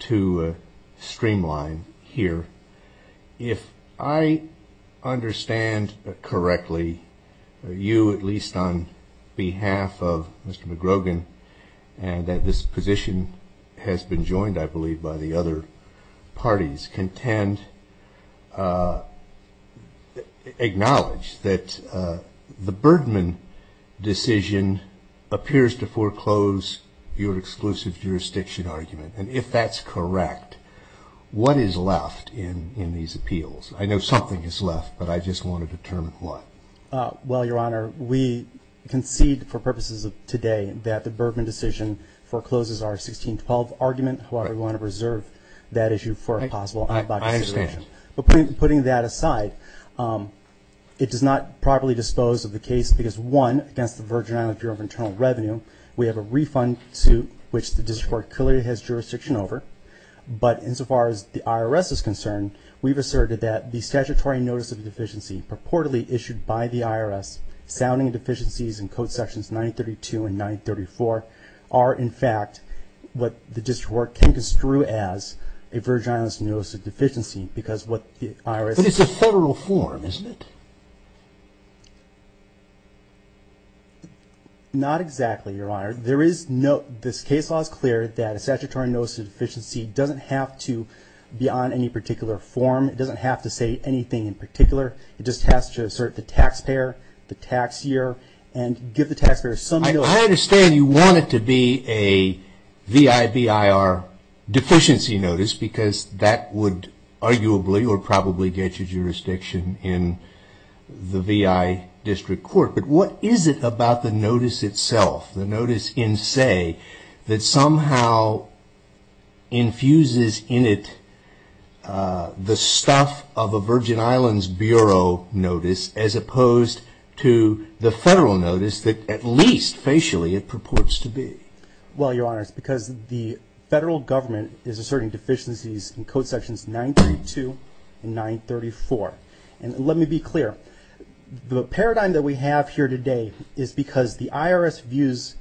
to streamline here. If I understand correctly, you, at least on behalf of Mr. McGrogan, and that this position has been joined, I believe, by the other parties, contend, acknowledge that the Birdman decision appears to foreclose your exclusive jurisdiction argument. And if that's correct, what is left in these appeals? I know something is left, but I just want to determine what. Well, Your Honor, we concede for purposes of today that the Birdman decision forecloses our 16-12 argument. However, we want to reserve that issue for a possible I understand. But putting that aside, it does not properly dispose of the case because, one, against the Virgin Islands Bureau of Internal Revenue, we have a refund suit which the District Court clearly has jurisdiction over. But insofar as the IRS is concerned, we've asserted that the statutory notice of deficiency purportedly issued by the IRS sounding deficiencies in Code Sections 932 and 934 are, in fact, what the District Court can construe as a Virgin Islands notice of deficiency because what the IRS But it's a federal form, isn't it? Not exactly, Your Honor. This case law is clear that a statutory notice of deficiency doesn't have to be on any particular form. It doesn't have to say anything in particular. It just has to assert the taxpayer, the tax year, and give the taxpayer some I understand you want it to be a V.I.B.I.R. deficiency notice because that would arguably or probably get you jurisdiction in the V.I. District Court. But what is it about the notice itself, the notice in say, that somehow infuses in it the stuff of a Virgin Islands Bureau notice as opposed to the federal notice that at least facially it purports to be? Well, Your Honor, it's because the federal government is asserting deficiencies in Code Sections 932 and 934. And let me be clear, the paradigm that we have here today is because the IRS views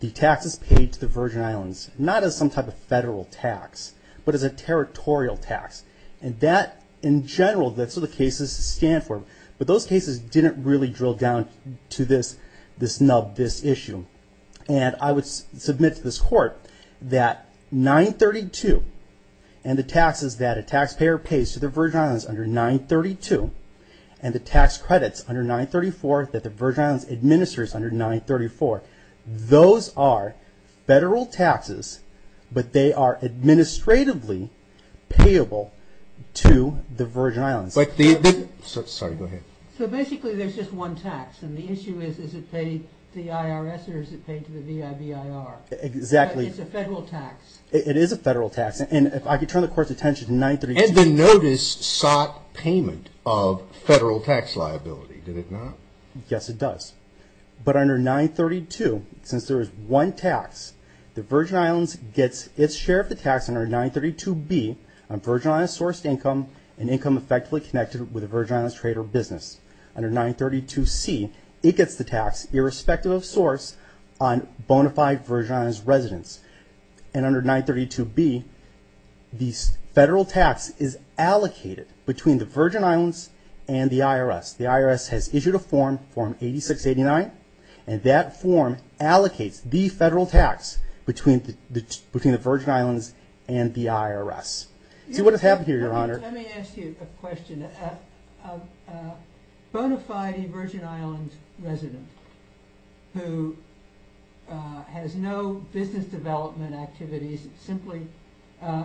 the taxes paid to the Virgin Islands not as some type of federal tax, but as a territorial tax. And that, in general, that's what the cases stand for. But those cases didn't really drill down to this nub, this issue. And I would submit to this Court that 932 and the taxes that a taxpayer pays to the Virgin Islands under 932, and the tax credits under 934 that the Virgin Islands administers under 934, those are federal taxes, but they are administratively payable to the Virgin Islands. So basically there's just one tax. And the issue is, is it paid to the IRS or is it paid to the V.I.B.I.R.? Exactly. It's a federal tax. It is a federal tax. And if I could turn the Court's attention to 932. And the notice sought payment of federal tax liability, did it not? Yes, it does. But under 932, since there is one tax, the Virgin Islands gets its share of the tax under 932B on Virgin Islands sourced income and income effectively connected with a Virgin Islands trade or business. Under 932C, it gets the tax, irrespective of source, on bona fide Virgin Islands residents. And under 932B, the federal tax is allocated between the Virgin Islands and the IRS. The IRS has issued a form, Form 8689, and that form allocates the federal tax between the Virgin Islands and the IRS. Let me ask you a question. A bona fide Virgin Islands resident who has no business development activities, simply a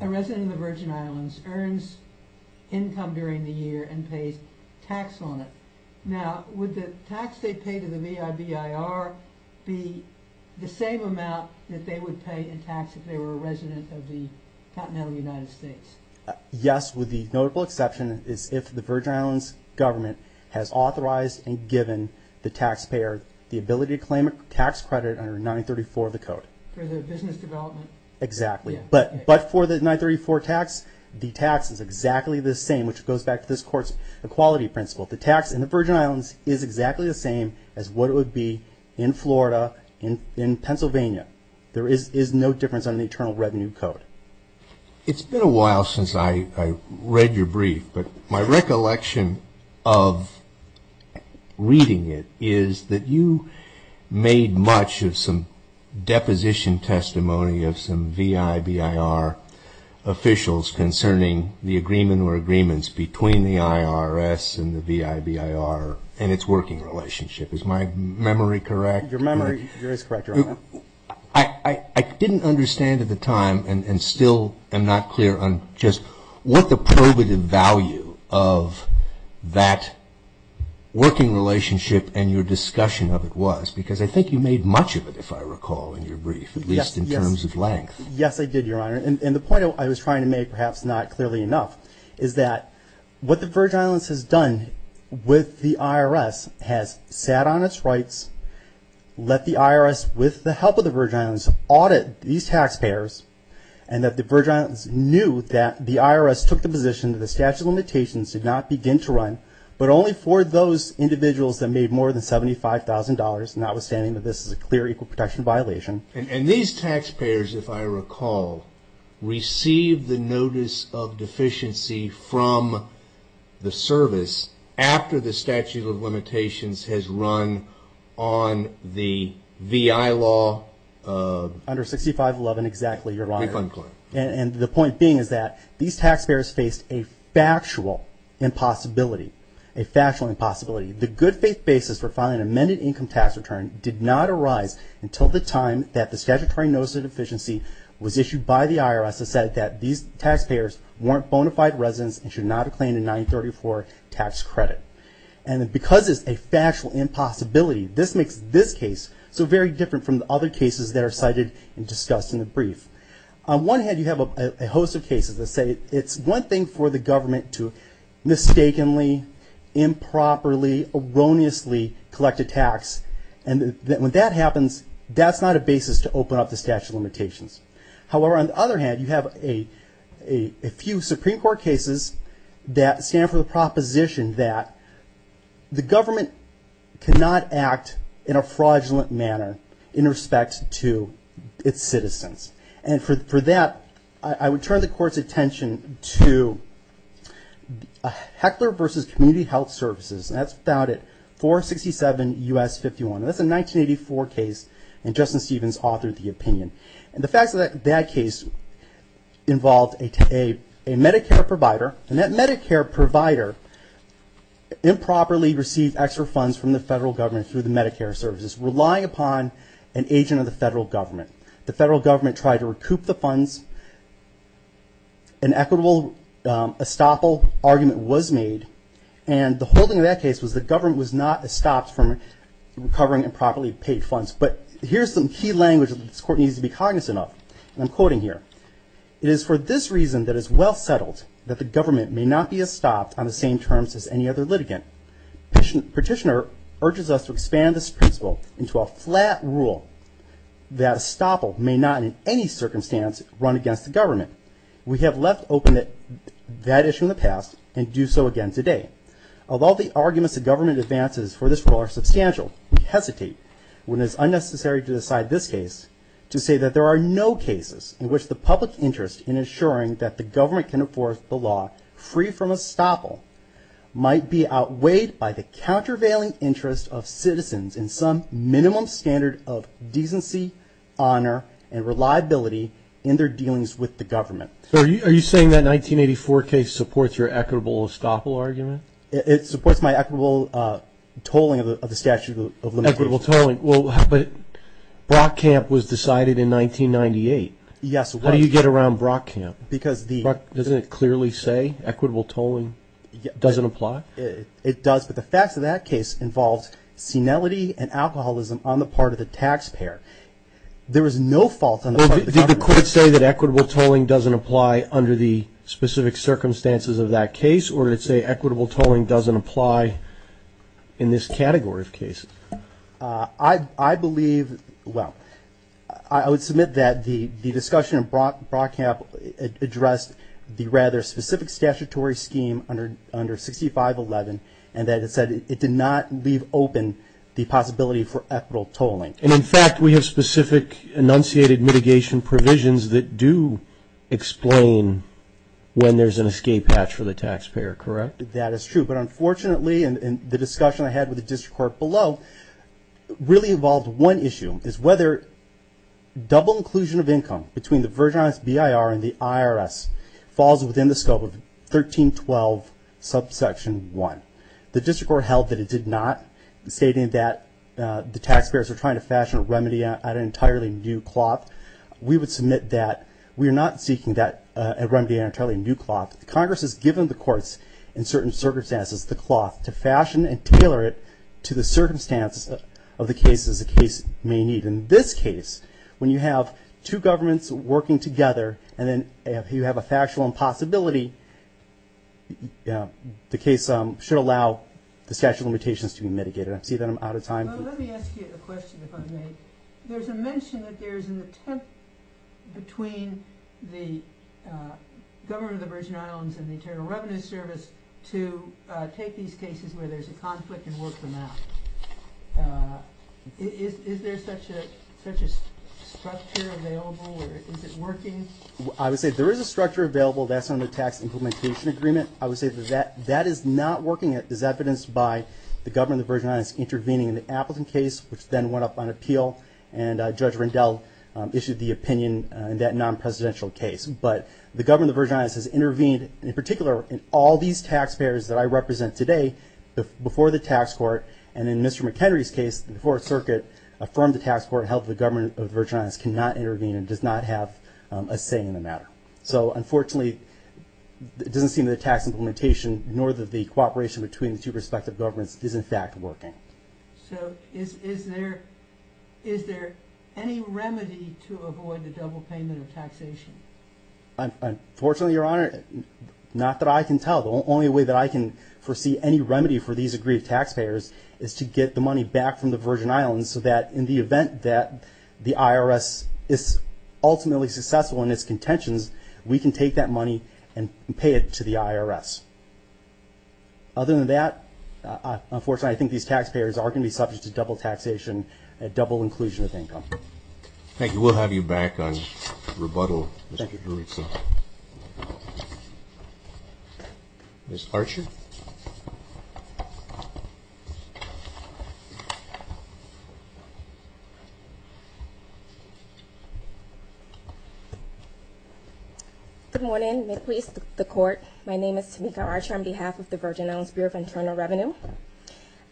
resident of the Virgin Islands, earns income during the year and pays tax on it. Now, would the tax they pay to the V.I.B.I.R. be the same amount that they would pay in tax if they were a resident of the continental United States? Yes, with the notable exception is if the Virgin Islands government has authorized and given the taxpayer the ability to claim a tax credit under 934 of the Code. For their business development? Exactly. But for the 934 tax, the tax is exactly the same, which goes back to this Court's equality principle. The tax in the Virgin Islands is exactly the same as what it would be in Florida, in Pennsylvania. There is no difference under the Internal Revenue Code. It's been a while since I read your brief, but my recollection of reading it is that you made much of some deposition testimony of some V.I.B.I.R. officials concerning the agreement or agreements between the IRS and the V.I.B.I.R. and its working relationship. Is my memory correct? I didn't understand at the time and still am not clear on just what the probative value of that working relationship and your discussion of it was, because I think you made much of it, if I recall, in your brief, at least in terms of length. Yes, I did, Your Honor. And the point I was trying to make, perhaps not clearly enough, is that what the Virgin Islands has done with the IRS has sat on its rights, let the IRS, with the help of the Virgin Islands, audit these taxpayers, and that the Virgin Islands knew that the IRS took the position that the statute of limitations did not begin to run, but only for those individuals that made more than $75,000, notwithstanding that this is a clear equal protection violation. And these taxpayers, if I recall, received the notice of deficiency from the service after the statute of limitations has run on the V.I. law? Under 6511, exactly, Your Honor. And the point being is that these taxpayers faced a factual impossibility, a factual impossibility. The good faith basis for filing an amended income tax return did not arise until the time that the statutory notice of deficiency was issued by the IRS that said that these taxpayers weren't bona fide residents and should not have claimed a 934 tax credit. And because it's a factual impossibility, this makes this case so very different from the other cases that are cited and discussed in the brief. On one hand, you have a host of cases that say it's one thing for the government to mistakenly, improperly, erroneously collect a tax, and when that happens, that's not a basis to open up the statute of limitations. However, on the other hand, you have a few Supreme Court cases that stand for the proposition that the government cannot act in a fraudulent manner in respect to its citizens. And for that, I would turn the Court's attention to Heckler v. Community Health Services. That's found at 467 U.S. 51. That's a 1984 case, and Justin Stevens authored the opinion. And the fact that that case involved a Medicare provider, and that Medicare provider improperly received extra funds from the federal government through the Medicare services, relying upon an agent of the federal government. The federal government tried to recoup the funds. An equitable estoppel argument was made, and the holding of that case was the government was not estopped from recovering improperly paid funds. But here's some key language that this Court needs to be cognizant of, and I'm quoting here. It is for this reason that is well settled that the government may not be estopped on the same terms as any other litigant. Petitioner urges us to expand this principle into a flat rule that estoppel may not in any circumstance run against the government. We have left open that issue in the past, and do so again today. Although the arguments the government advances for this rule are substantial, we hesitate, when it is unnecessary to decide this case, to say that there are no cases in which the public interest in ensuring that the government can enforce the law free from estoppel might be outweighed by the countervailing interest of citizens in some minimum standard of decency, honor, and reliability in their dealings with the government. So are you saying that 1984 case supports your equitable estoppel argument? It supports my equitable tolling of the statute of limitations. Equitable tolling. But Brock Camp was decided in 1998. Yes, it was. How do you get around Brock Camp? Doesn't it clearly say equitable tolling doesn't apply? It does, but the facts of that case involved senility and alcoholism on the part of the taxpayer. There was no fault on the part of the taxpayer. Did the court say that equitable tolling doesn't apply under the specific circumstances of that case, or did it say equitable tolling doesn't apply in this category of cases? I believe, well, I would submit that the discussion of Brock Camp addressed the rather specific statutory scheme under 6511, and that it said it did not leave open the possibility for equitable tolling. And, in fact, we have specific enunciated mitigation provisions that do explain when there's an escape hatch for the taxpayer, correct? That is true. But, unfortunately, the discussion I had with the district court below really involved one issue, is whether double inclusion of income between the Virgin Islands BIR and the IRS falls within the scope of 1312 subsection 1. The district court held that it did not, stating that the taxpayers are trying to fashion a remedy out of entirely new cloth. We would submit that we are not seeking that remedy out of entirely new cloth. Congress has given the courts, in certain circumstances, the cloth to fashion and tailor it to the circumstances of the cases the case may need. In this case, when you have two governments working together, and then you have a factual impossibility, the case should allow the statute of limitations to be mitigated. I see that I'm out of time. Let me ask you a question, if I may. There's a mention that there's an attempt between the government of the Virgin Islands and the Internal Revenue Service to take these cases where there's a conflict and work them out. Is there such a structure available, or is it working? I would say there is a structure available. That's under the Tax Implementation Agreement. I would say that that is not working. It is evidenced by the government of the Virgin Islands intervening in the Appleton case, which then went up on appeal, and Judge Rendell issued the opinion in that non-presidential case. But the government of the Virgin Islands has intervened, in particular, in all these taxpayers that I represent today, before the tax court, and in Mr. McHenry's case, the Fourth Circuit, affirmed the tax court held that the government of the Virgin Islands cannot intervene and does not have a say in the matter. So, unfortunately, it doesn't seem that the tax implementation, nor the cooperation between the two respective governments, is in fact working. So, is there any remedy to avoid the double payment of taxation? Unfortunately, Your Honor, not that I can tell. The only way that I can foresee any remedy for these aggrieved taxpayers is to get the money back from the Virgin Islands so that in the event that the IRS is ultimately successful in its contentions, we can take that money and pay it to the IRS. Other than that, unfortunately, I think these taxpayers are going to be subject to double taxation and double inclusion of income. Thank you. We'll have you back on rebuttal, Mr. Juricza. Ms. Archer. Good morning. May it please the Court, my name is Tamika Archer on behalf of the Virgin Islands Bureau of Internal Revenue.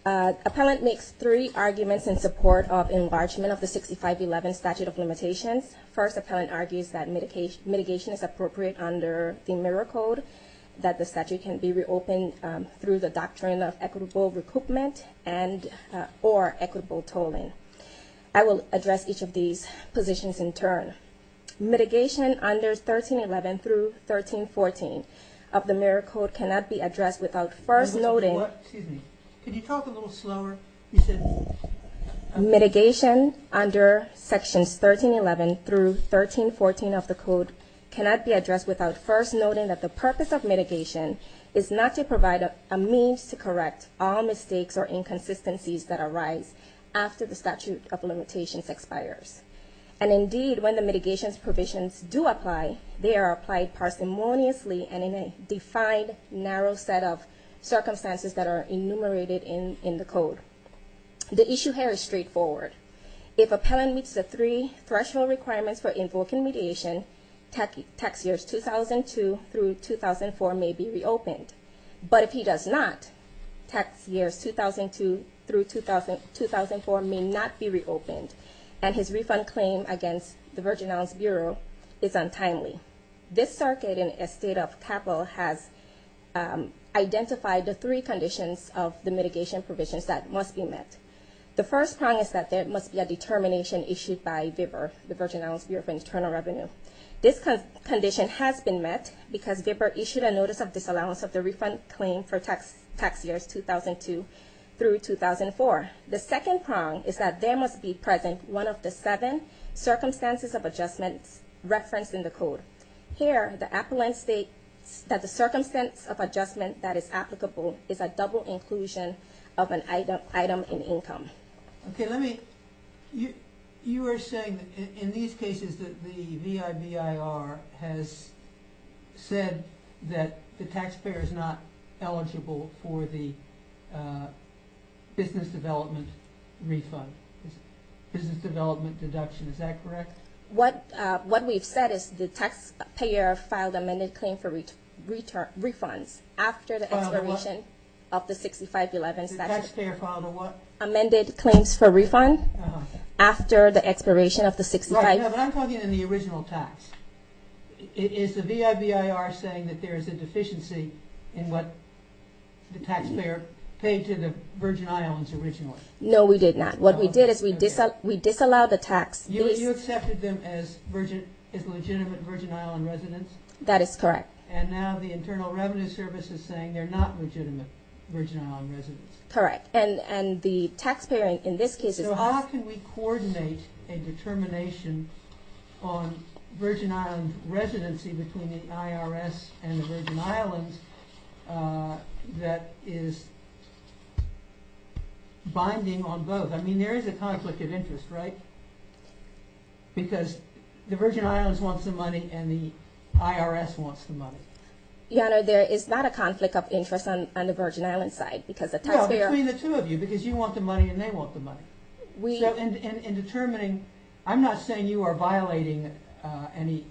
Appellant makes three arguments in support of enlargement of the 6511 statute of limitations. First, appellant argues that mitigation is appropriate under the Mirror Code, that the statute can be reopened through the doctrine of equitable recoupment and or equitable tolling. I will address each of these positions in turn. Mitigation under 1311 through 1314 of the Mirror Code cannot be addressed without first noting... Excuse me. Could you talk a little slower? Mitigation under Sections 1311 through 1314 of the Code cannot be addressed without first noting that the purpose of mitigation is not to provide a means to correct all mistakes or inconsistencies that arise after the statute of limitations expires. And indeed, when the mitigation's provisions do apply, they are applied parsimoniously and in a defined, narrow set of circumstances that are enumerated in the Code. The issue here is straightforward. If appellant meets the three threshold requirements for invoking mediation, tax years 2002 through 2004 may be reopened. But if he does not, tax years 2002 through 2004 may not be reopened, and his refund claim against the Virgin Islands Bureau is untimely. This circuit in a state of capital has identified the three conditions of the mitigation provisions that must be met. The first prong is that there must be a determination issued by VBIR, the Virgin Islands Bureau of Internal Revenue. This condition has been met because VBIR issued a notice of disallowance of the refund claim for tax years 2002 through 2004. The second prong is that there must be present one of the seven circumstances of adjustment referenced in the Code. Here, the appellant states that the circumstance of adjustment that is applicable is a double inclusion of an item in income. Okay, let me, you are saying in these cases that the VBIR has said that the taxpayer is not eligible for the business development refund, business development deduction, is that correct? What we've said is the taxpayer filed amended claim for refunds after the expiration of the 6511 statute. The taxpayer filed a what? Amended claims for refund after the expiration of the 6511. Right, but I'm talking in the original tax. Is the VBIR saying that there is a deficiency in what the taxpayer paid to the Virgin Islands originally? No, we did not. What we did is we disallowed the tax. You accepted them as legitimate Virgin Island residents? That is correct. And now the Internal Revenue Service is saying they're not legitimate Virgin Island residents. Correct, and the taxpayer in this case is not. So how can we coordinate a determination on Virgin Island residency between the IRS and the Virgin Islands that is binding on both? I mean, there is a conflict of interest, right? Because the Virgin Islands wants the money and the IRS wants the money. Your Honor, there is not a conflict of interest on the Virgin Island side. Well, between the two of you, because you want the money and they want the money. So in determining, I'm not saying you are violating any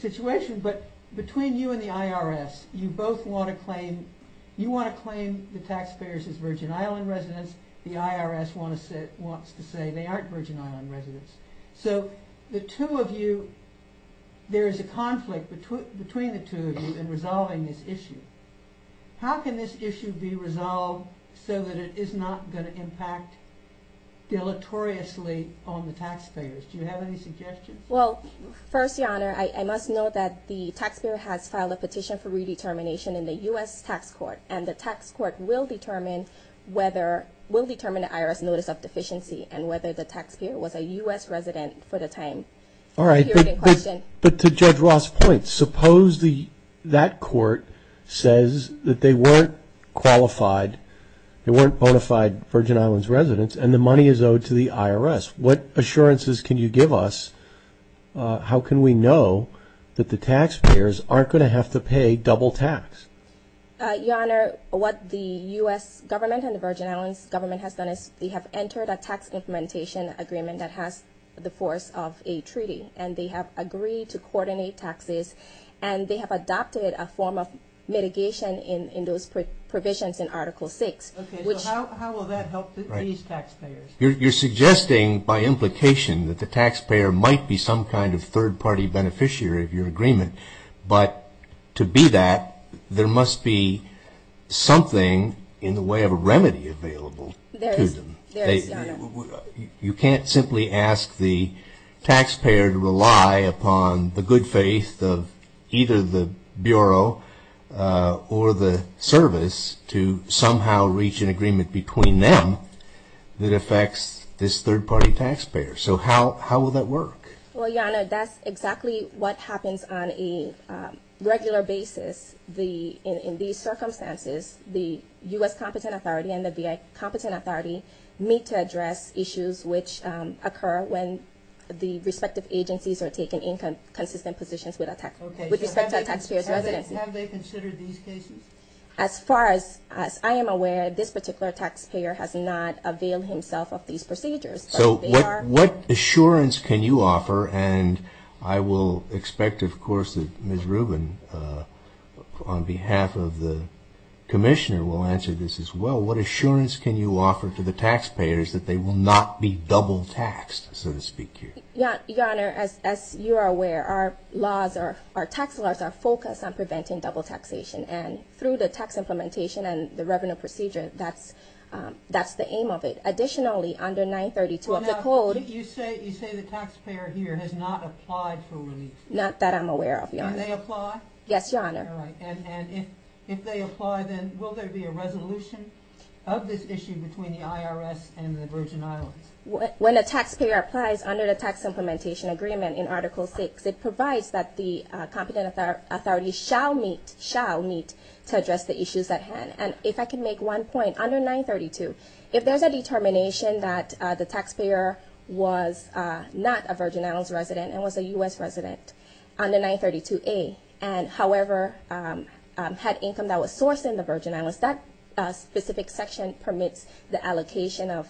situation, but between you and the IRS, you both want to claim, you want to claim the taxpayers as Virgin Island residents, the IRS wants to say they aren't Virgin Island residents. So the two of you, there is a conflict between the two of you in resolving this issue. How can this issue be resolved so that it is not going to impact deleteriously on the taxpayers? Do you have any suggestions? Well, first, Your Honor, I must note that the taxpayer has filed a petition for redetermination in the U.S. Tax Court, and the tax court will determine whether, will determine the IRS notice of deficiency and whether the taxpayer was a U.S. resident for the time period in question. All right, but to Judge Ross' point, suppose that court says that they weren't qualified, they weren't bona fide Virgin Islands residents and the money is owed to the IRS. What assurances can you give us? How can we know that the taxpayers aren't going to have to pay double tax? Your Honor, what the U.S. government and the Virgin Islands government has done is they have entered a tax implementation agreement that has the force of a treaty, and they have agreed to coordinate taxes, and they have adopted a form of mitigation in those provisions in Article 6. Okay, so how will that help these taxpayers? You're suggesting by implication that the taxpayer might be some kind of third-party beneficiary of your agreement, but to be that, there must be something in the way of a remedy available to them. There is, Your Honor. You can't simply ask the taxpayer to rely upon the good faith of either the Bureau or the service to somehow reach an agreement between them that affects this third-party taxpayer. So how will that work? Well, Your Honor, that's exactly what happens on a regular basis. In these circumstances, the U.S. Competent Authority and the VA Competent Authority meet to address issues which occur when the respective agencies are taking inconsistent positions with respect to a taxpayer's residency. Have they considered these cases? As far as I am aware, this particular taxpayer has not availed himself of these procedures. So what assurance can you offer? And I will expect, of course, that Ms. Rubin, on behalf of the Commissioner, will answer this as well. What assurance can you offer to the taxpayers that they will not be double-taxed, so to speak, here? Your Honor, as you are aware, our tax laws are focused on preventing double taxation, and through the tax implementation and the revenue procedure, that's the aim of it. Additionally, under 932 of the Code... Well, now, you say the taxpayer here has not applied for relief. Not that I'm aware of, Your Honor. Can they apply? Yes, Your Honor. All right. And if they apply, then will there be a resolution of this issue between the IRS and the Virgin Islands? When a taxpayer applies under the tax implementation agreement in Article VI, and if I can make one point, under 932, if there's a determination that the taxpayer was not a Virgin Islands resident and was a U.S. resident under 932A and, however, had income that was sourced in the Virgin Islands, that specific section permits the allocation of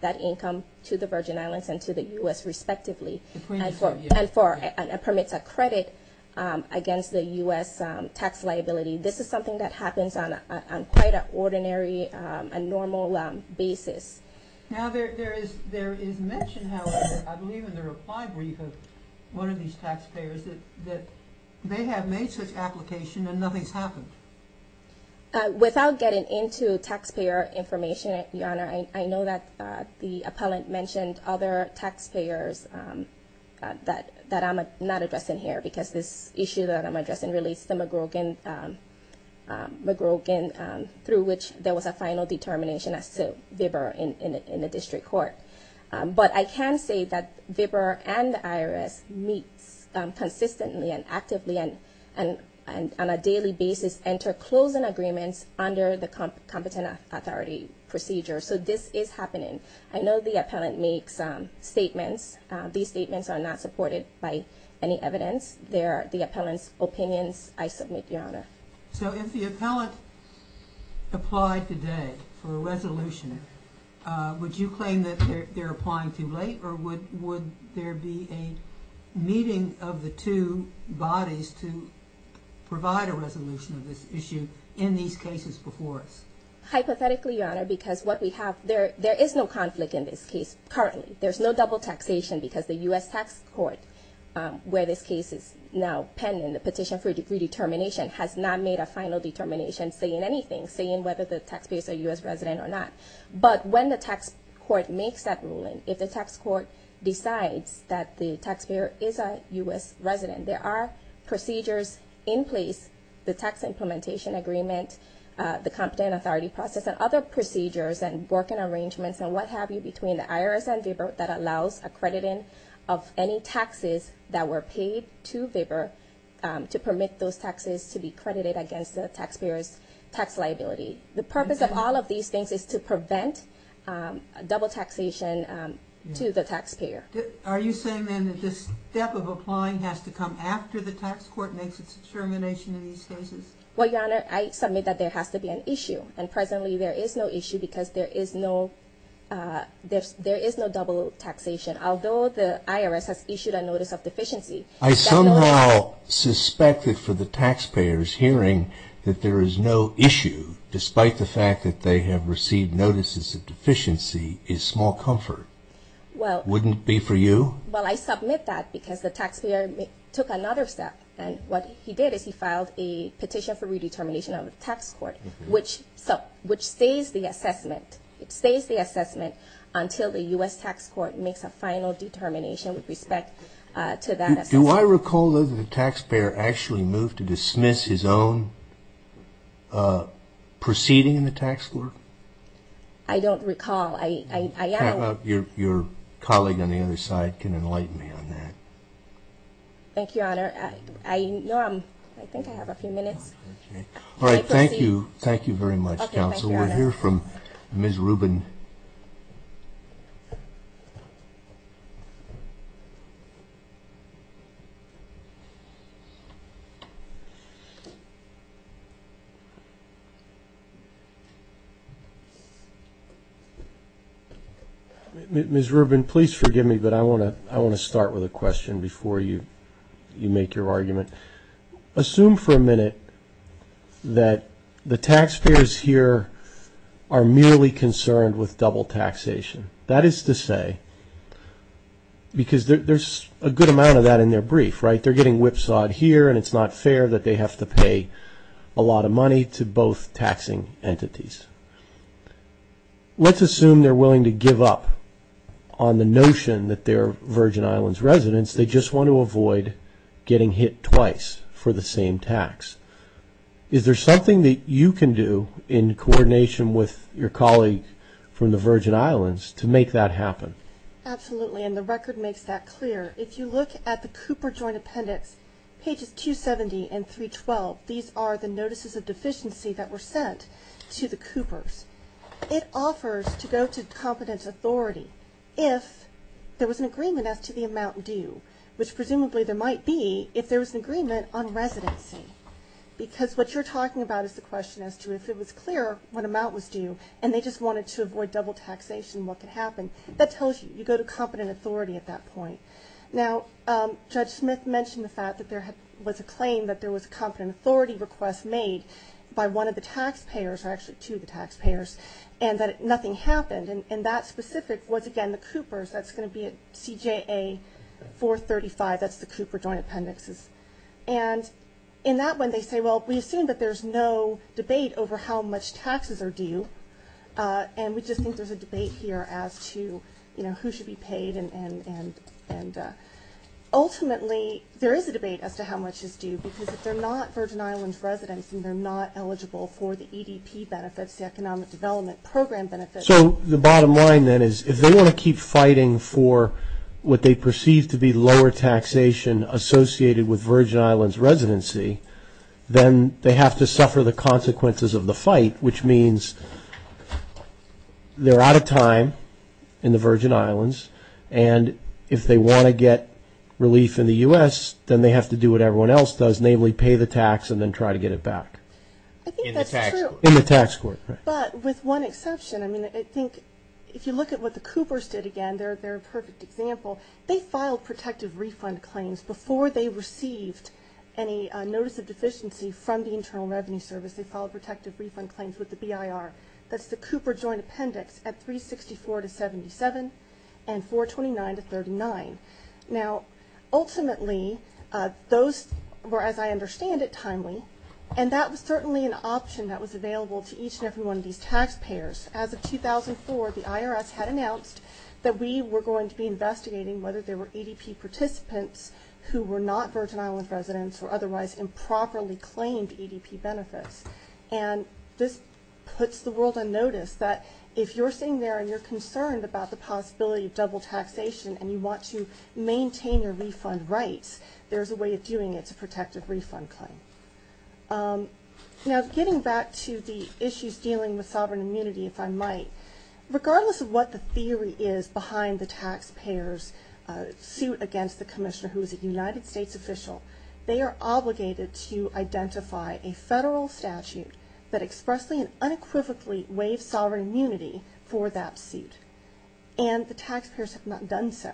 that income to the Virgin Islands and to the U.S., respectively. And permits a credit against the U.S. tax liability. This is something that happens on quite an ordinary and normal basis. Now, there is mention, however, I believe, in the reply brief of one of these taxpayers that they have made such application and nothing's happened. Without getting into taxpayer information, Your Honor, I know that the appellant mentioned other taxpayers that I'm not addressing here because this issue that I'm addressing relates to McGrogan, through which there was a final determination as to VBRA in the district court. But I can say that VBRA and the IRS meet consistently and actively and on a daily basis and to close an agreement under the competent authority procedure. So this is happening. I know the appellant makes statements. These statements are not supported by any evidence. They are the appellant's opinions. I submit, Your Honor. So if the appellant applied today for a resolution, would you claim that they're applying too late or would there be a meeting of the two bodies to provide a resolution of this issue in these cases before us? Hypothetically, Your Honor, because what we have, there is no conflict in this case currently. There's no double taxation because the U.S. Tax Court, where this case is now pending, the petition for redetermination, has not made a final determination saying anything, saying whether the taxpayer is a U.S. resident or not. But when the tax court makes that ruling, if the tax court decides that the taxpayer is a U.S. resident, there are procedures in place, the tax implementation agreement, the competent authority process, and other procedures and working arrangements and what have you between the IRS and VBIR that allows accrediting of any taxes that were paid to VBIR to permit those taxes to be credited against the taxpayer's tax liability. The purpose of all of these things is to prevent double taxation to the taxpayer. Are you saying, then, that this step of applying has to come after the tax court makes its determination in these cases? Well, Your Honor, I submit that there has to be an issue. And presently, there is no issue because there is no double taxation. Although the IRS has issued a notice of deficiency, that's not... I somehow suspect that for the taxpayers, hearing that there is no issue, despite the fact that they have received notices of deficiency, is small comfort. Well... Wouldn't it be for you? Well, I submit that because the taxpayer took another step. And what he did is he filed a petition for redetermination of the tax court, which stays the assessment. It stays the assessment until the U.S. tax court makes a final determination with respect to that assessment. Do I recall, though, that the taxpayer actually moved to dismiss his own proceeding in the tax court? I don't recall. I am... How about your colleague on the other side can enlighten me on that? Thank you, Your Honor. I know I'm... I think I have a few minutes. All right. Thank you. Can I proceed? Thank you very much, Counsel. We'll hear from Ms. Rubin. Ms. Rubin, please forgive me, but I want to start with a question before you make your argument. Assume for a minute that the taxpayers here are merely concerned with double taxation. That is to say, because there's a good amount of that in their brief, right? They're getting whipsawed here, and it's not fair that they have to pay a lot of money to both taxing entities. Let's assume they're willing to give up on the notion that they're Virgin Islands residents. They just want to avoid getting hit twice for the same tax. Is there something that you can do in coordination with your colleague from the Virgin Islands to make that happen? Absolutely, and the record makes that clear. If you look at the Cooper Joint Appendix, pages 270 and 312, these are the notices of deficiency that were sent to the Coopers. It offers to go to competent authority if there was an agreement as to the amount due, which presumably there might be if there was an agreement on residency, because what you're talking about is the question as to if it was clear what amount was due and they just wanted to avoid double taxation, what could happen? That tells you you go to competent authority at that point. Now, Judge Smith mentioned the fact that there was a claim that there was a competent authority request made by one of the taxpayers, or actually two of the taxpayers, and that nothing happened. That specific was, again, the Coopers. That's going to be at CJA 435. That's the Cooper Joint Appendix. In that one, they say, well, we assume that there's no debate over how much taxes are due, and we just think there's a debate here as to who should be paid. Ultimately, there is a debate as to how much is due, because if they're not Virgin Islands residents and they're not eligible for the EDP benefits, the Economic Development Program benefits. So the bottom line, then, is if they want to keep fighting for what they perceive to be lower taxation associated with Virgin Islands residency, then they have to suffer the consequences of the fight, which means they're out of time in the Virgin Islands, and if they want to get relief in the U.S., then they have to do what everyone else does, namely pay the tax and then try to get it back. In the tax court. In the tax court, right. But with one exception, I mean, I think if you look at what the Coopers did again, they're a perfect example. They filed protective refund claims before they received any notice of deficiency from the Internal Revenue Service. They filed protective refund claims with the BIR. That's the Cooper Joint Appendix at 364 to 77 and 429 to 39. Now, ultimately, those were, as I understand it, timely, and that was certainly an option that was available to each and every one of these taxpayers. As of 2004, the IRS had announced that we were going to be investigating whether there were EDP participants who were not Virgin Islands residents or otherwise improperly claimed EDP benefits, and this puts the world on notice that if you're sitting there and you're concerned about the possibility of double taxation and you want to maintain your refund rights, there's a way of doing it to protect a refund claim. Now, getting back to the issues dealing with sovereign immunity, if I might, regardless of what the theory is behind the taxpayers' suit against the commissioner, who is a United States official, they are obligated to identify a federal statute that expressly and unequivocally waives sovereign immunity for that suit, and the taxpayers have not done so.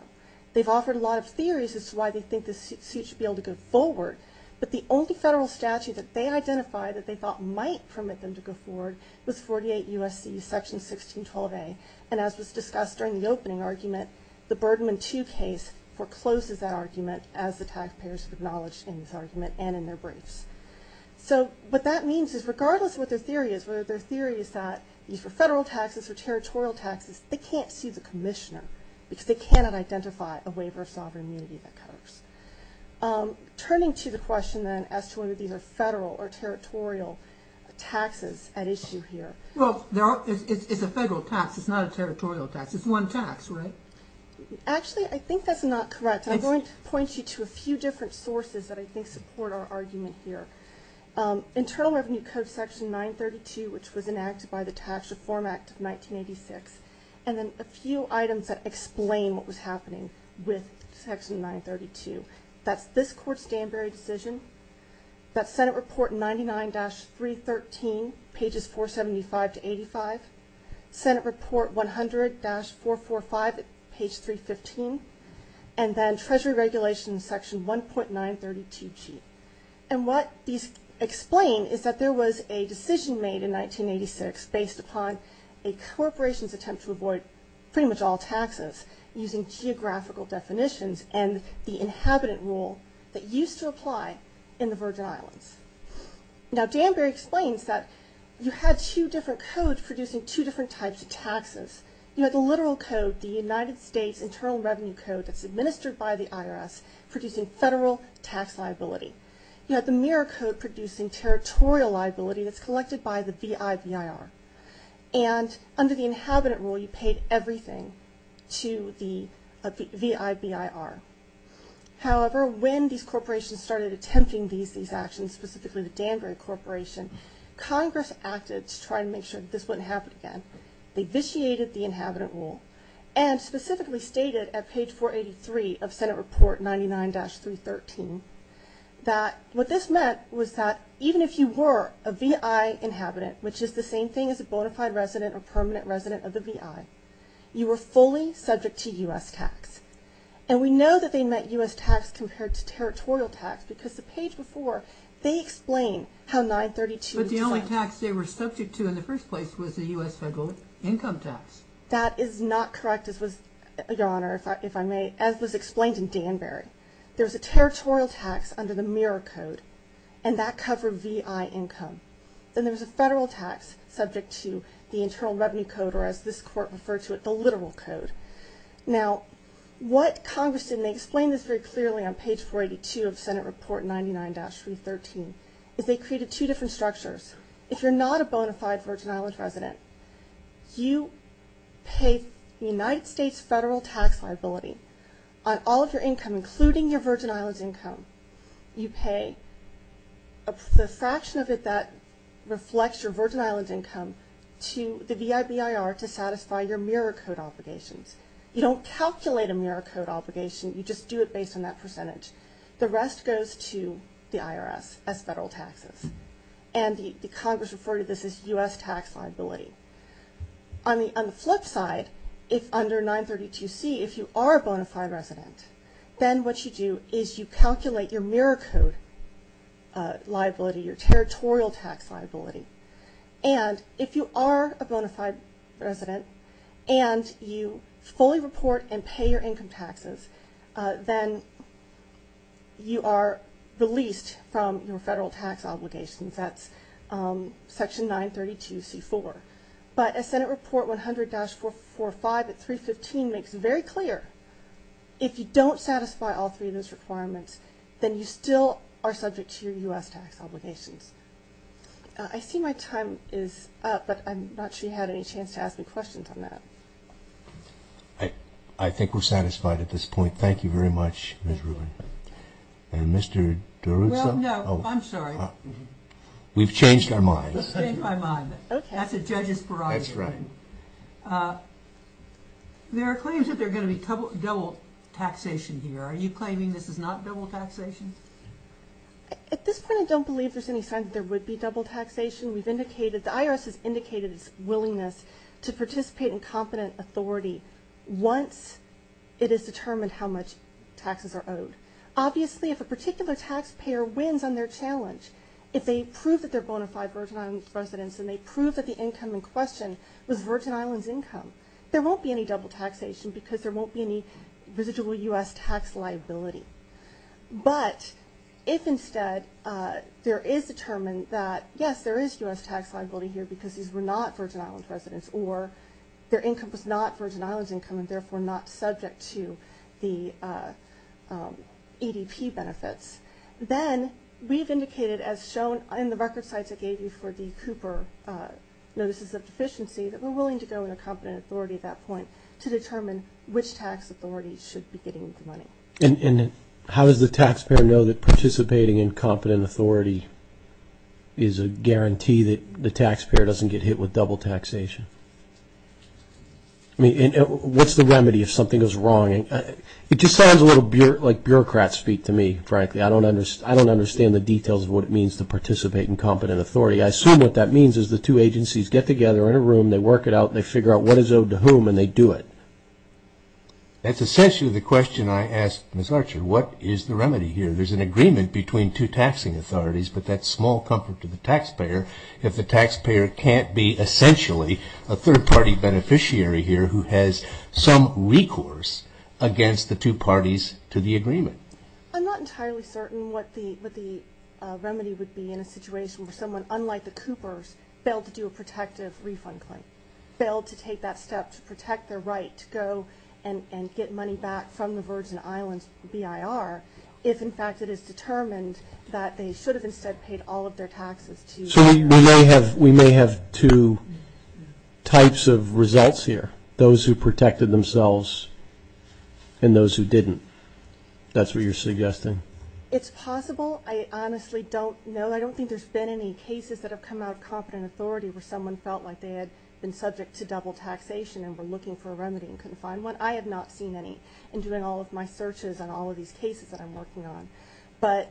They've offered a lot of theories as to why they think this suit should be able to go forward, but the only federal statute that they identified that they thought might permit them to go forward was 48 U.S.C. Section 1612A, and as was discussed during the opening argument, the Bergman 2 case forecloses that argument as the taxpayers have acknowledged in this argument and in their briefs. So what that means is regardless of what their theory is, whether their theory is that for federal taxes or territorial taxes, they can't sue the commissioner because they cannot identify a waiver of sovereign immunity that covers. Turning to the question then as to whether these are federal or territorial taxes at issue here. Well, it's a federal tax. It's not a territorial tax. It's one tax, right? Actually, I think that's not correct. I'm going to point you to a few different sources that I think support our argument here. Internal Revenue Code Section 932, which was enacted by the Tax Reform Act of 1986, and then a few items that explain what was happening with Section 932. That's this Court's Danbury decision. That's Senate Report 99-313, pages 475 to 85. Senate Report 100-445, page 315. And then Treasury Regulations Section 1.932G. And what these explain is that there was a decision made in 1986 based upon a corporation's attempt to avoid pretty much all taxes using geographical definitions and the inhabitant rule that used to apply in the Virgin Islands. Now, Danbury explains that you had two different codes producing two different types of taxes. You had the literal code, the United States Internal Revenue Code that's administered by the IRS producing federal tax liability. You had the mirror code producing territorial liability that's collected by the VIVIR. And under the inhabitant rule, you paid everything to the VIVIR. However, when these corporations started attempting these actions, specifically the Danbury Corporation, Congress acted to try and make sure that this wouldn't happen again. They vitiated the inhabitant rule and specifically stated at page 483 of Senate Report 99-313 that what this meant was that even if you were a VI inhabitant, which is the same thing as a bona fide resident or permanent resident of the VI, you were fully subject to U.S. tax. And we know that they meant U.S. tax compared to territorial tax because the page before, they explain how 932 was funded. But the only tax they were subject to in the first place was the U.S. federal income tax. That is not correct, Your Honor, if I may, as was explained in Danbury. There was a territorial tax under the mirror code, and that covered VI income. Then there was a federal tax subject to the Internal Revenue Code, or as this Court referred to it, the literal code. Now, what Congress did, and they explain this very clearly on page 482 of Senate Report 99-313, is they created two different structures. If you're not a bona fide Virgin Islands resident, you pay the United States federal tax liability on all of your income, including your Virgin Islands income. You pay the fraction of it that reflects your Virgin Islands income to the VIBIR to satisfy your mirror code obligations. You don't calculate a mirror code obligation. You just do it based on that percentage. The rest goes to the IRS as federal taxes. And Congress referred to this as U.S. tax liability. On the flip side, under 932C, if you are a bona fide resident, then what you do is you calculate your mirror code liability, your territorial tax liability. And if you are a bona fide resident and you fully report and pay your income taxes, then you are released from your federal tax obligations. That's Section 932C-4. But as Senate Report 100-445 at 315 makes very clear, if you don't satisfy all three of those requirements, then you still are subject to your U.S. tax obligations. I see my time is up, but I'm not sure you had any chance to ask me questions on that. I think we're satisfied at this point. Thank you very much, Ms. Rubin. And Mr. DeRusso? Well, no, I'm sorry. We've changed our minds. We've changed our minds. That's a judge's prerogative. That's right. There are claims that there are going to be double taxation here. Are you claiming this is not double taxation? At this point, I don't believe there's any sign that there would be double taxation. The IRS has indicated its willingness to participate in competent authority once it is determined how much taxes are owed. Obviously, if a particular taxpayer wins on their challenge, if they prove that they're bona fide Virgin Islands residents and they prove that the income in question was Virgin Islands income, there won't be any double taxation because there won't be any residual U.S. tax liability. But if instead there is determined that, yes, there is U.S. tax liability here because these were not Virgin Islands residents or their income was not Virgin Islands income and therefore not subject to the ADP benefits, then we've indicated as shown in the record sites I gave you for the Cooper notices of deficiency that we're willing to go into competent authority at that point to determine which tax authorities should be getting the money. And how does the taxpayer know that participating in competent authority is a guarantee that the taxpayer doesn't get hit with double taxation? I mean, what's the remedy if something goes wrong? It just sounds a little like bureaucrats speak to me, frankly. I don't understand the details of what it means to participate in competent authority. I assume what that means is the two agencies get together in a room, they work it out, they figure out what is owed to whom and they do it. That's essentially the question I ask Ms. Archer. What is the remedy here? There's an agreement between two taxing authorities, but that's small comfort to the taxpayer if the taxpayer can't be essentially a third-party beneficiary here who has some recourse against the two parties to the agreement. I'm not entirely certain what the remedy would be in a situation where someone, unlike the Coopers, failed to do a protective refund claim, failed to take that step to protect their right to go and get money back from the Virgin Islands BIR if, in fact, it is determined that they should have instead paid all of their taxes to... So we may have two types of results here, those who protected themselves and those who didn't. That's what you're suggesting? It's possible. I honestly don't know. I don't think there's been any cases that have come out of competent authority where someone felt like they had been subject to double taxation and were looking for a remedy and couldn't find one. I have not seen any in doing all of my searches on all of these cases that I'm working on. But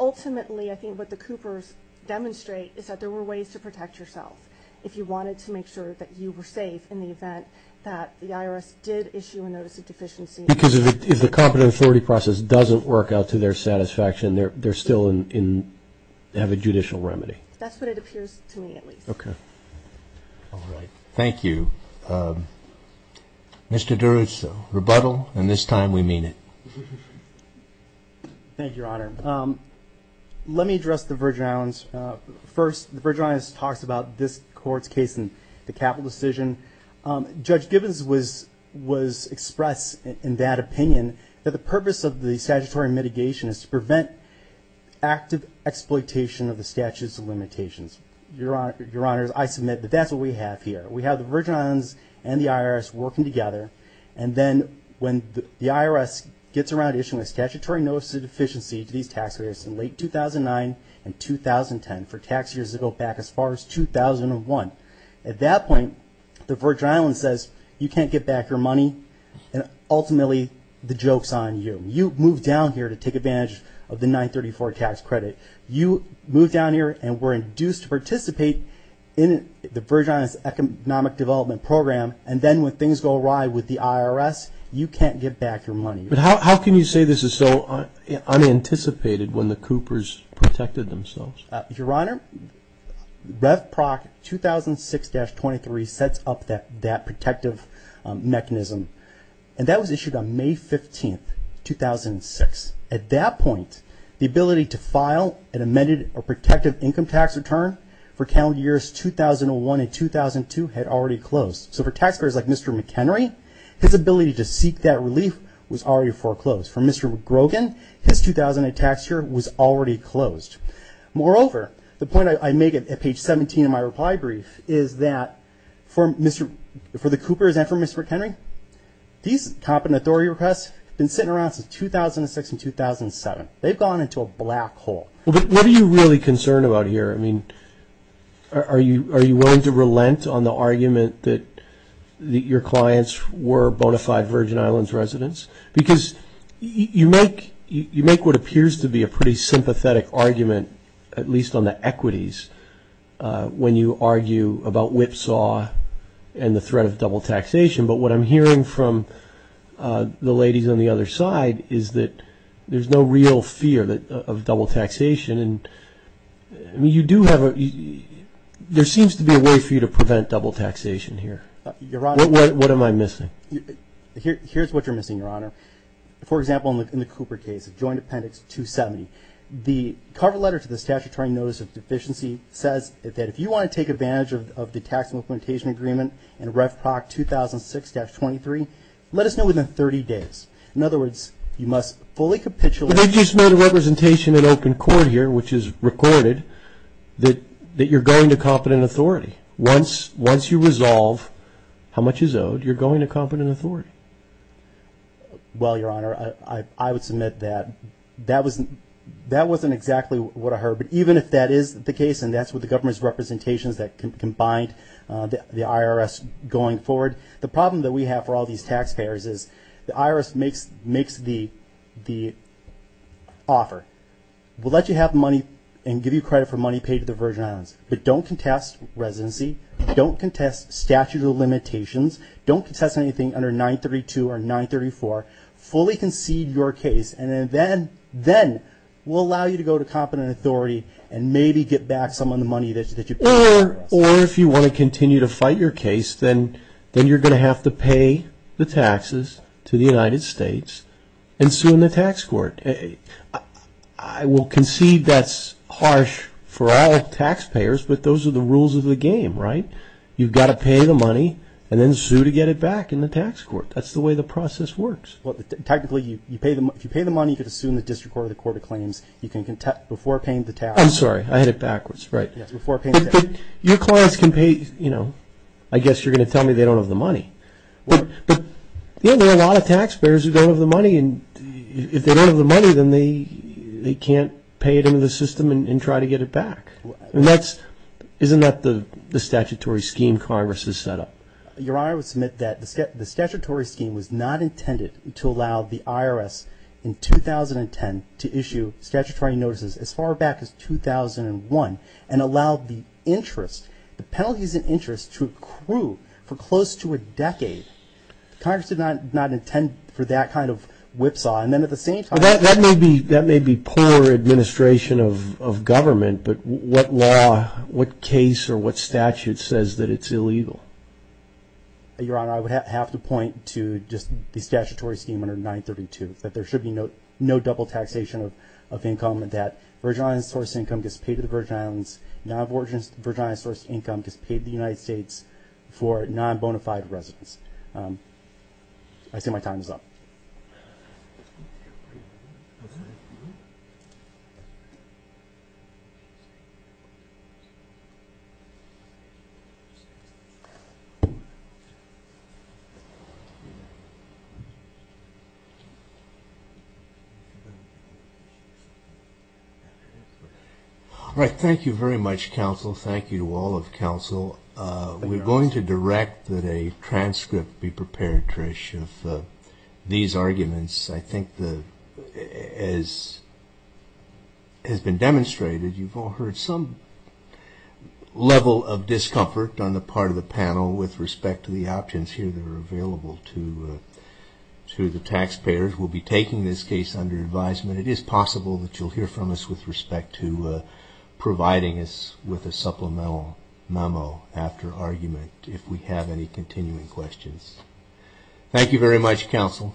ultimately, I think what the Coopers demonstrate is that there were ways to protect yourself if you wanted to make sure that you were safe in the event that the IRS did issue a notice of deficiency. Because if the competent authority process doesn't work out to their satisfaction, they still have a judicial remedy. That's what it appears to me, at least. Okay. All right. Thank you. Mr. Duras, rebuttal, and this time we mean it. Thank you, Your Honor. Let me address the Virgin Islands. First, the Virgin Islands talks about this court's case in the capital decision. Judge Gibbons was expressed in that opinion that the purpose of the statutory mitigation is to prevent active exploitation of the statutes of limitations. Your Honor, I submit that that's what we have here. We have the Virgin Islands and the IRS working together, and then when the IRS gets around issuing a statutory notice of deficiency to these taxpayers in late 2009 and 2010 for tax years to go back as far as 2001, at that point, the Virgin Islands says, you can't get back your money, and ultimately, the joke's on you. You moved down here to take advantage of the 934 tax credit. You moved down here and were induced to participate in the Virgin Islands Economic Development Program, and then when things go awry with the IRS, you can't get back your money. But how can you say this is so unanticipated when the Coopers protected themselves? Your Honor, Rev. Proc. 2006-23 sets up that protective mechanism, and that was issued on May 15, 2006. At that point, the ability to file an amended or protective income tax return for calendar years 2001 and 2002 had already closed. So for taxpayers like Mr. McHenry, his ability to seek that relief was already foreclosed. For Mr. Grogan, his 2008 tax year was already closed. Moreover, the point I make at page 17 of my reply brief is that for the Coopers and for Mr. McHenry, these competent authority requests have been sitting around since 2006 and 2007. They've gone into a black hole. What are you really concerned about here? I mean, are you willing to relent on the argument that your clients were bona fide Virgin Islands residents? Because you make what appears to be a pretty sympathetic argument, at least on the equities, when you argue about whipsaw and the threat of double taxation. But what I'm hearing from the ladies on the other side is that there's no real fear of double taxation. I mean, there seems to be a way for you to prevent double taxation here. What am I missing? Here's what you're missing, Your Honor. For example, in the Cooper case, Joint Appendix 270, the cover letter to the Statutory Notice of Deficiency says that if you want to take advantage of the tax implementation agreement in Ref Proc 2006-23, let us know within 30 days. In other words, you must fully capitulate. But they just made a representation in open court here, which is recorded, that you're going to competent authority. Once you resolve how much is owed, you're going to competent authority. Well, Your Honor, I would submit that that wasn't exactly what I heard. But even if that is the case, and that's what the government's representation is that can bind the IRS going forward, the problem that we have for all these taxpayers is the IRS makes the offer. We'll let you have money and give you credit for money paid to the Virgin Islands. But don't contest residency. Don't contest statute of limitations. Don't contest anything under 932 or 934. Fully concede your case, and then we'll allow you to go to competent authority and maybe get back some of the money that you paid us. Or if you want to continue to fight your case, then you're going to have to pay the taxes to the United States and sue in the tax court. I will concede that's harsh for all taxpayers, but those are the rules of the game, right? You've got to pay the money and then sue to get it back in the tax court. That's the way the process works. Technically, if you pay the money, you can assume the District Court or the Court of Claims, you can contest before paying the tax. I'm sorry, I had it backwards, right. Your clients can pay, you know, I guess you're going to tell me they don't have the money. But there are a lot of taxpayers who don't have the money, and if they don't have the money, then they can't pay it into the system and try to get it back. Isn't that the statutory scheme Congress has set up? Your Honor, I would submit that the statutory scheme was not intended to allow the IRS in 2010 to issue statutory notices as far back as 2001 and allowed the interest, the penalties and interest to accrue for close to a decade. Congress did not intend for that kind of whipsaw, and then at the same time... That may be poor administration of government, but what law, what case or what statute says that it's illegal? Your Honor, I would have to point to just the statutory scheme under 932, that there should be no double taxation of income, that Virgin Islands sourced income gets paid to the Virgin Islands, non-Virgin Islands sourced income gets paid to the United States for non-bona fide residents. I see my time is up. Thank you. All right, thank you very much, counsel. Thank you to all of counsel. We're going to direct that a transcript be prepared, Trish, of these arguments. I think, as has been demonstrated, you've all heard some level of discomfort on the part of the panel with respect to the options here that are available to the taxpayers. We'll be taking this case under advisement. It is possible that you'll hear from us with respect to providing us with a supplemental memo after argument if we have any continuing questions. Thank you very much, counsel.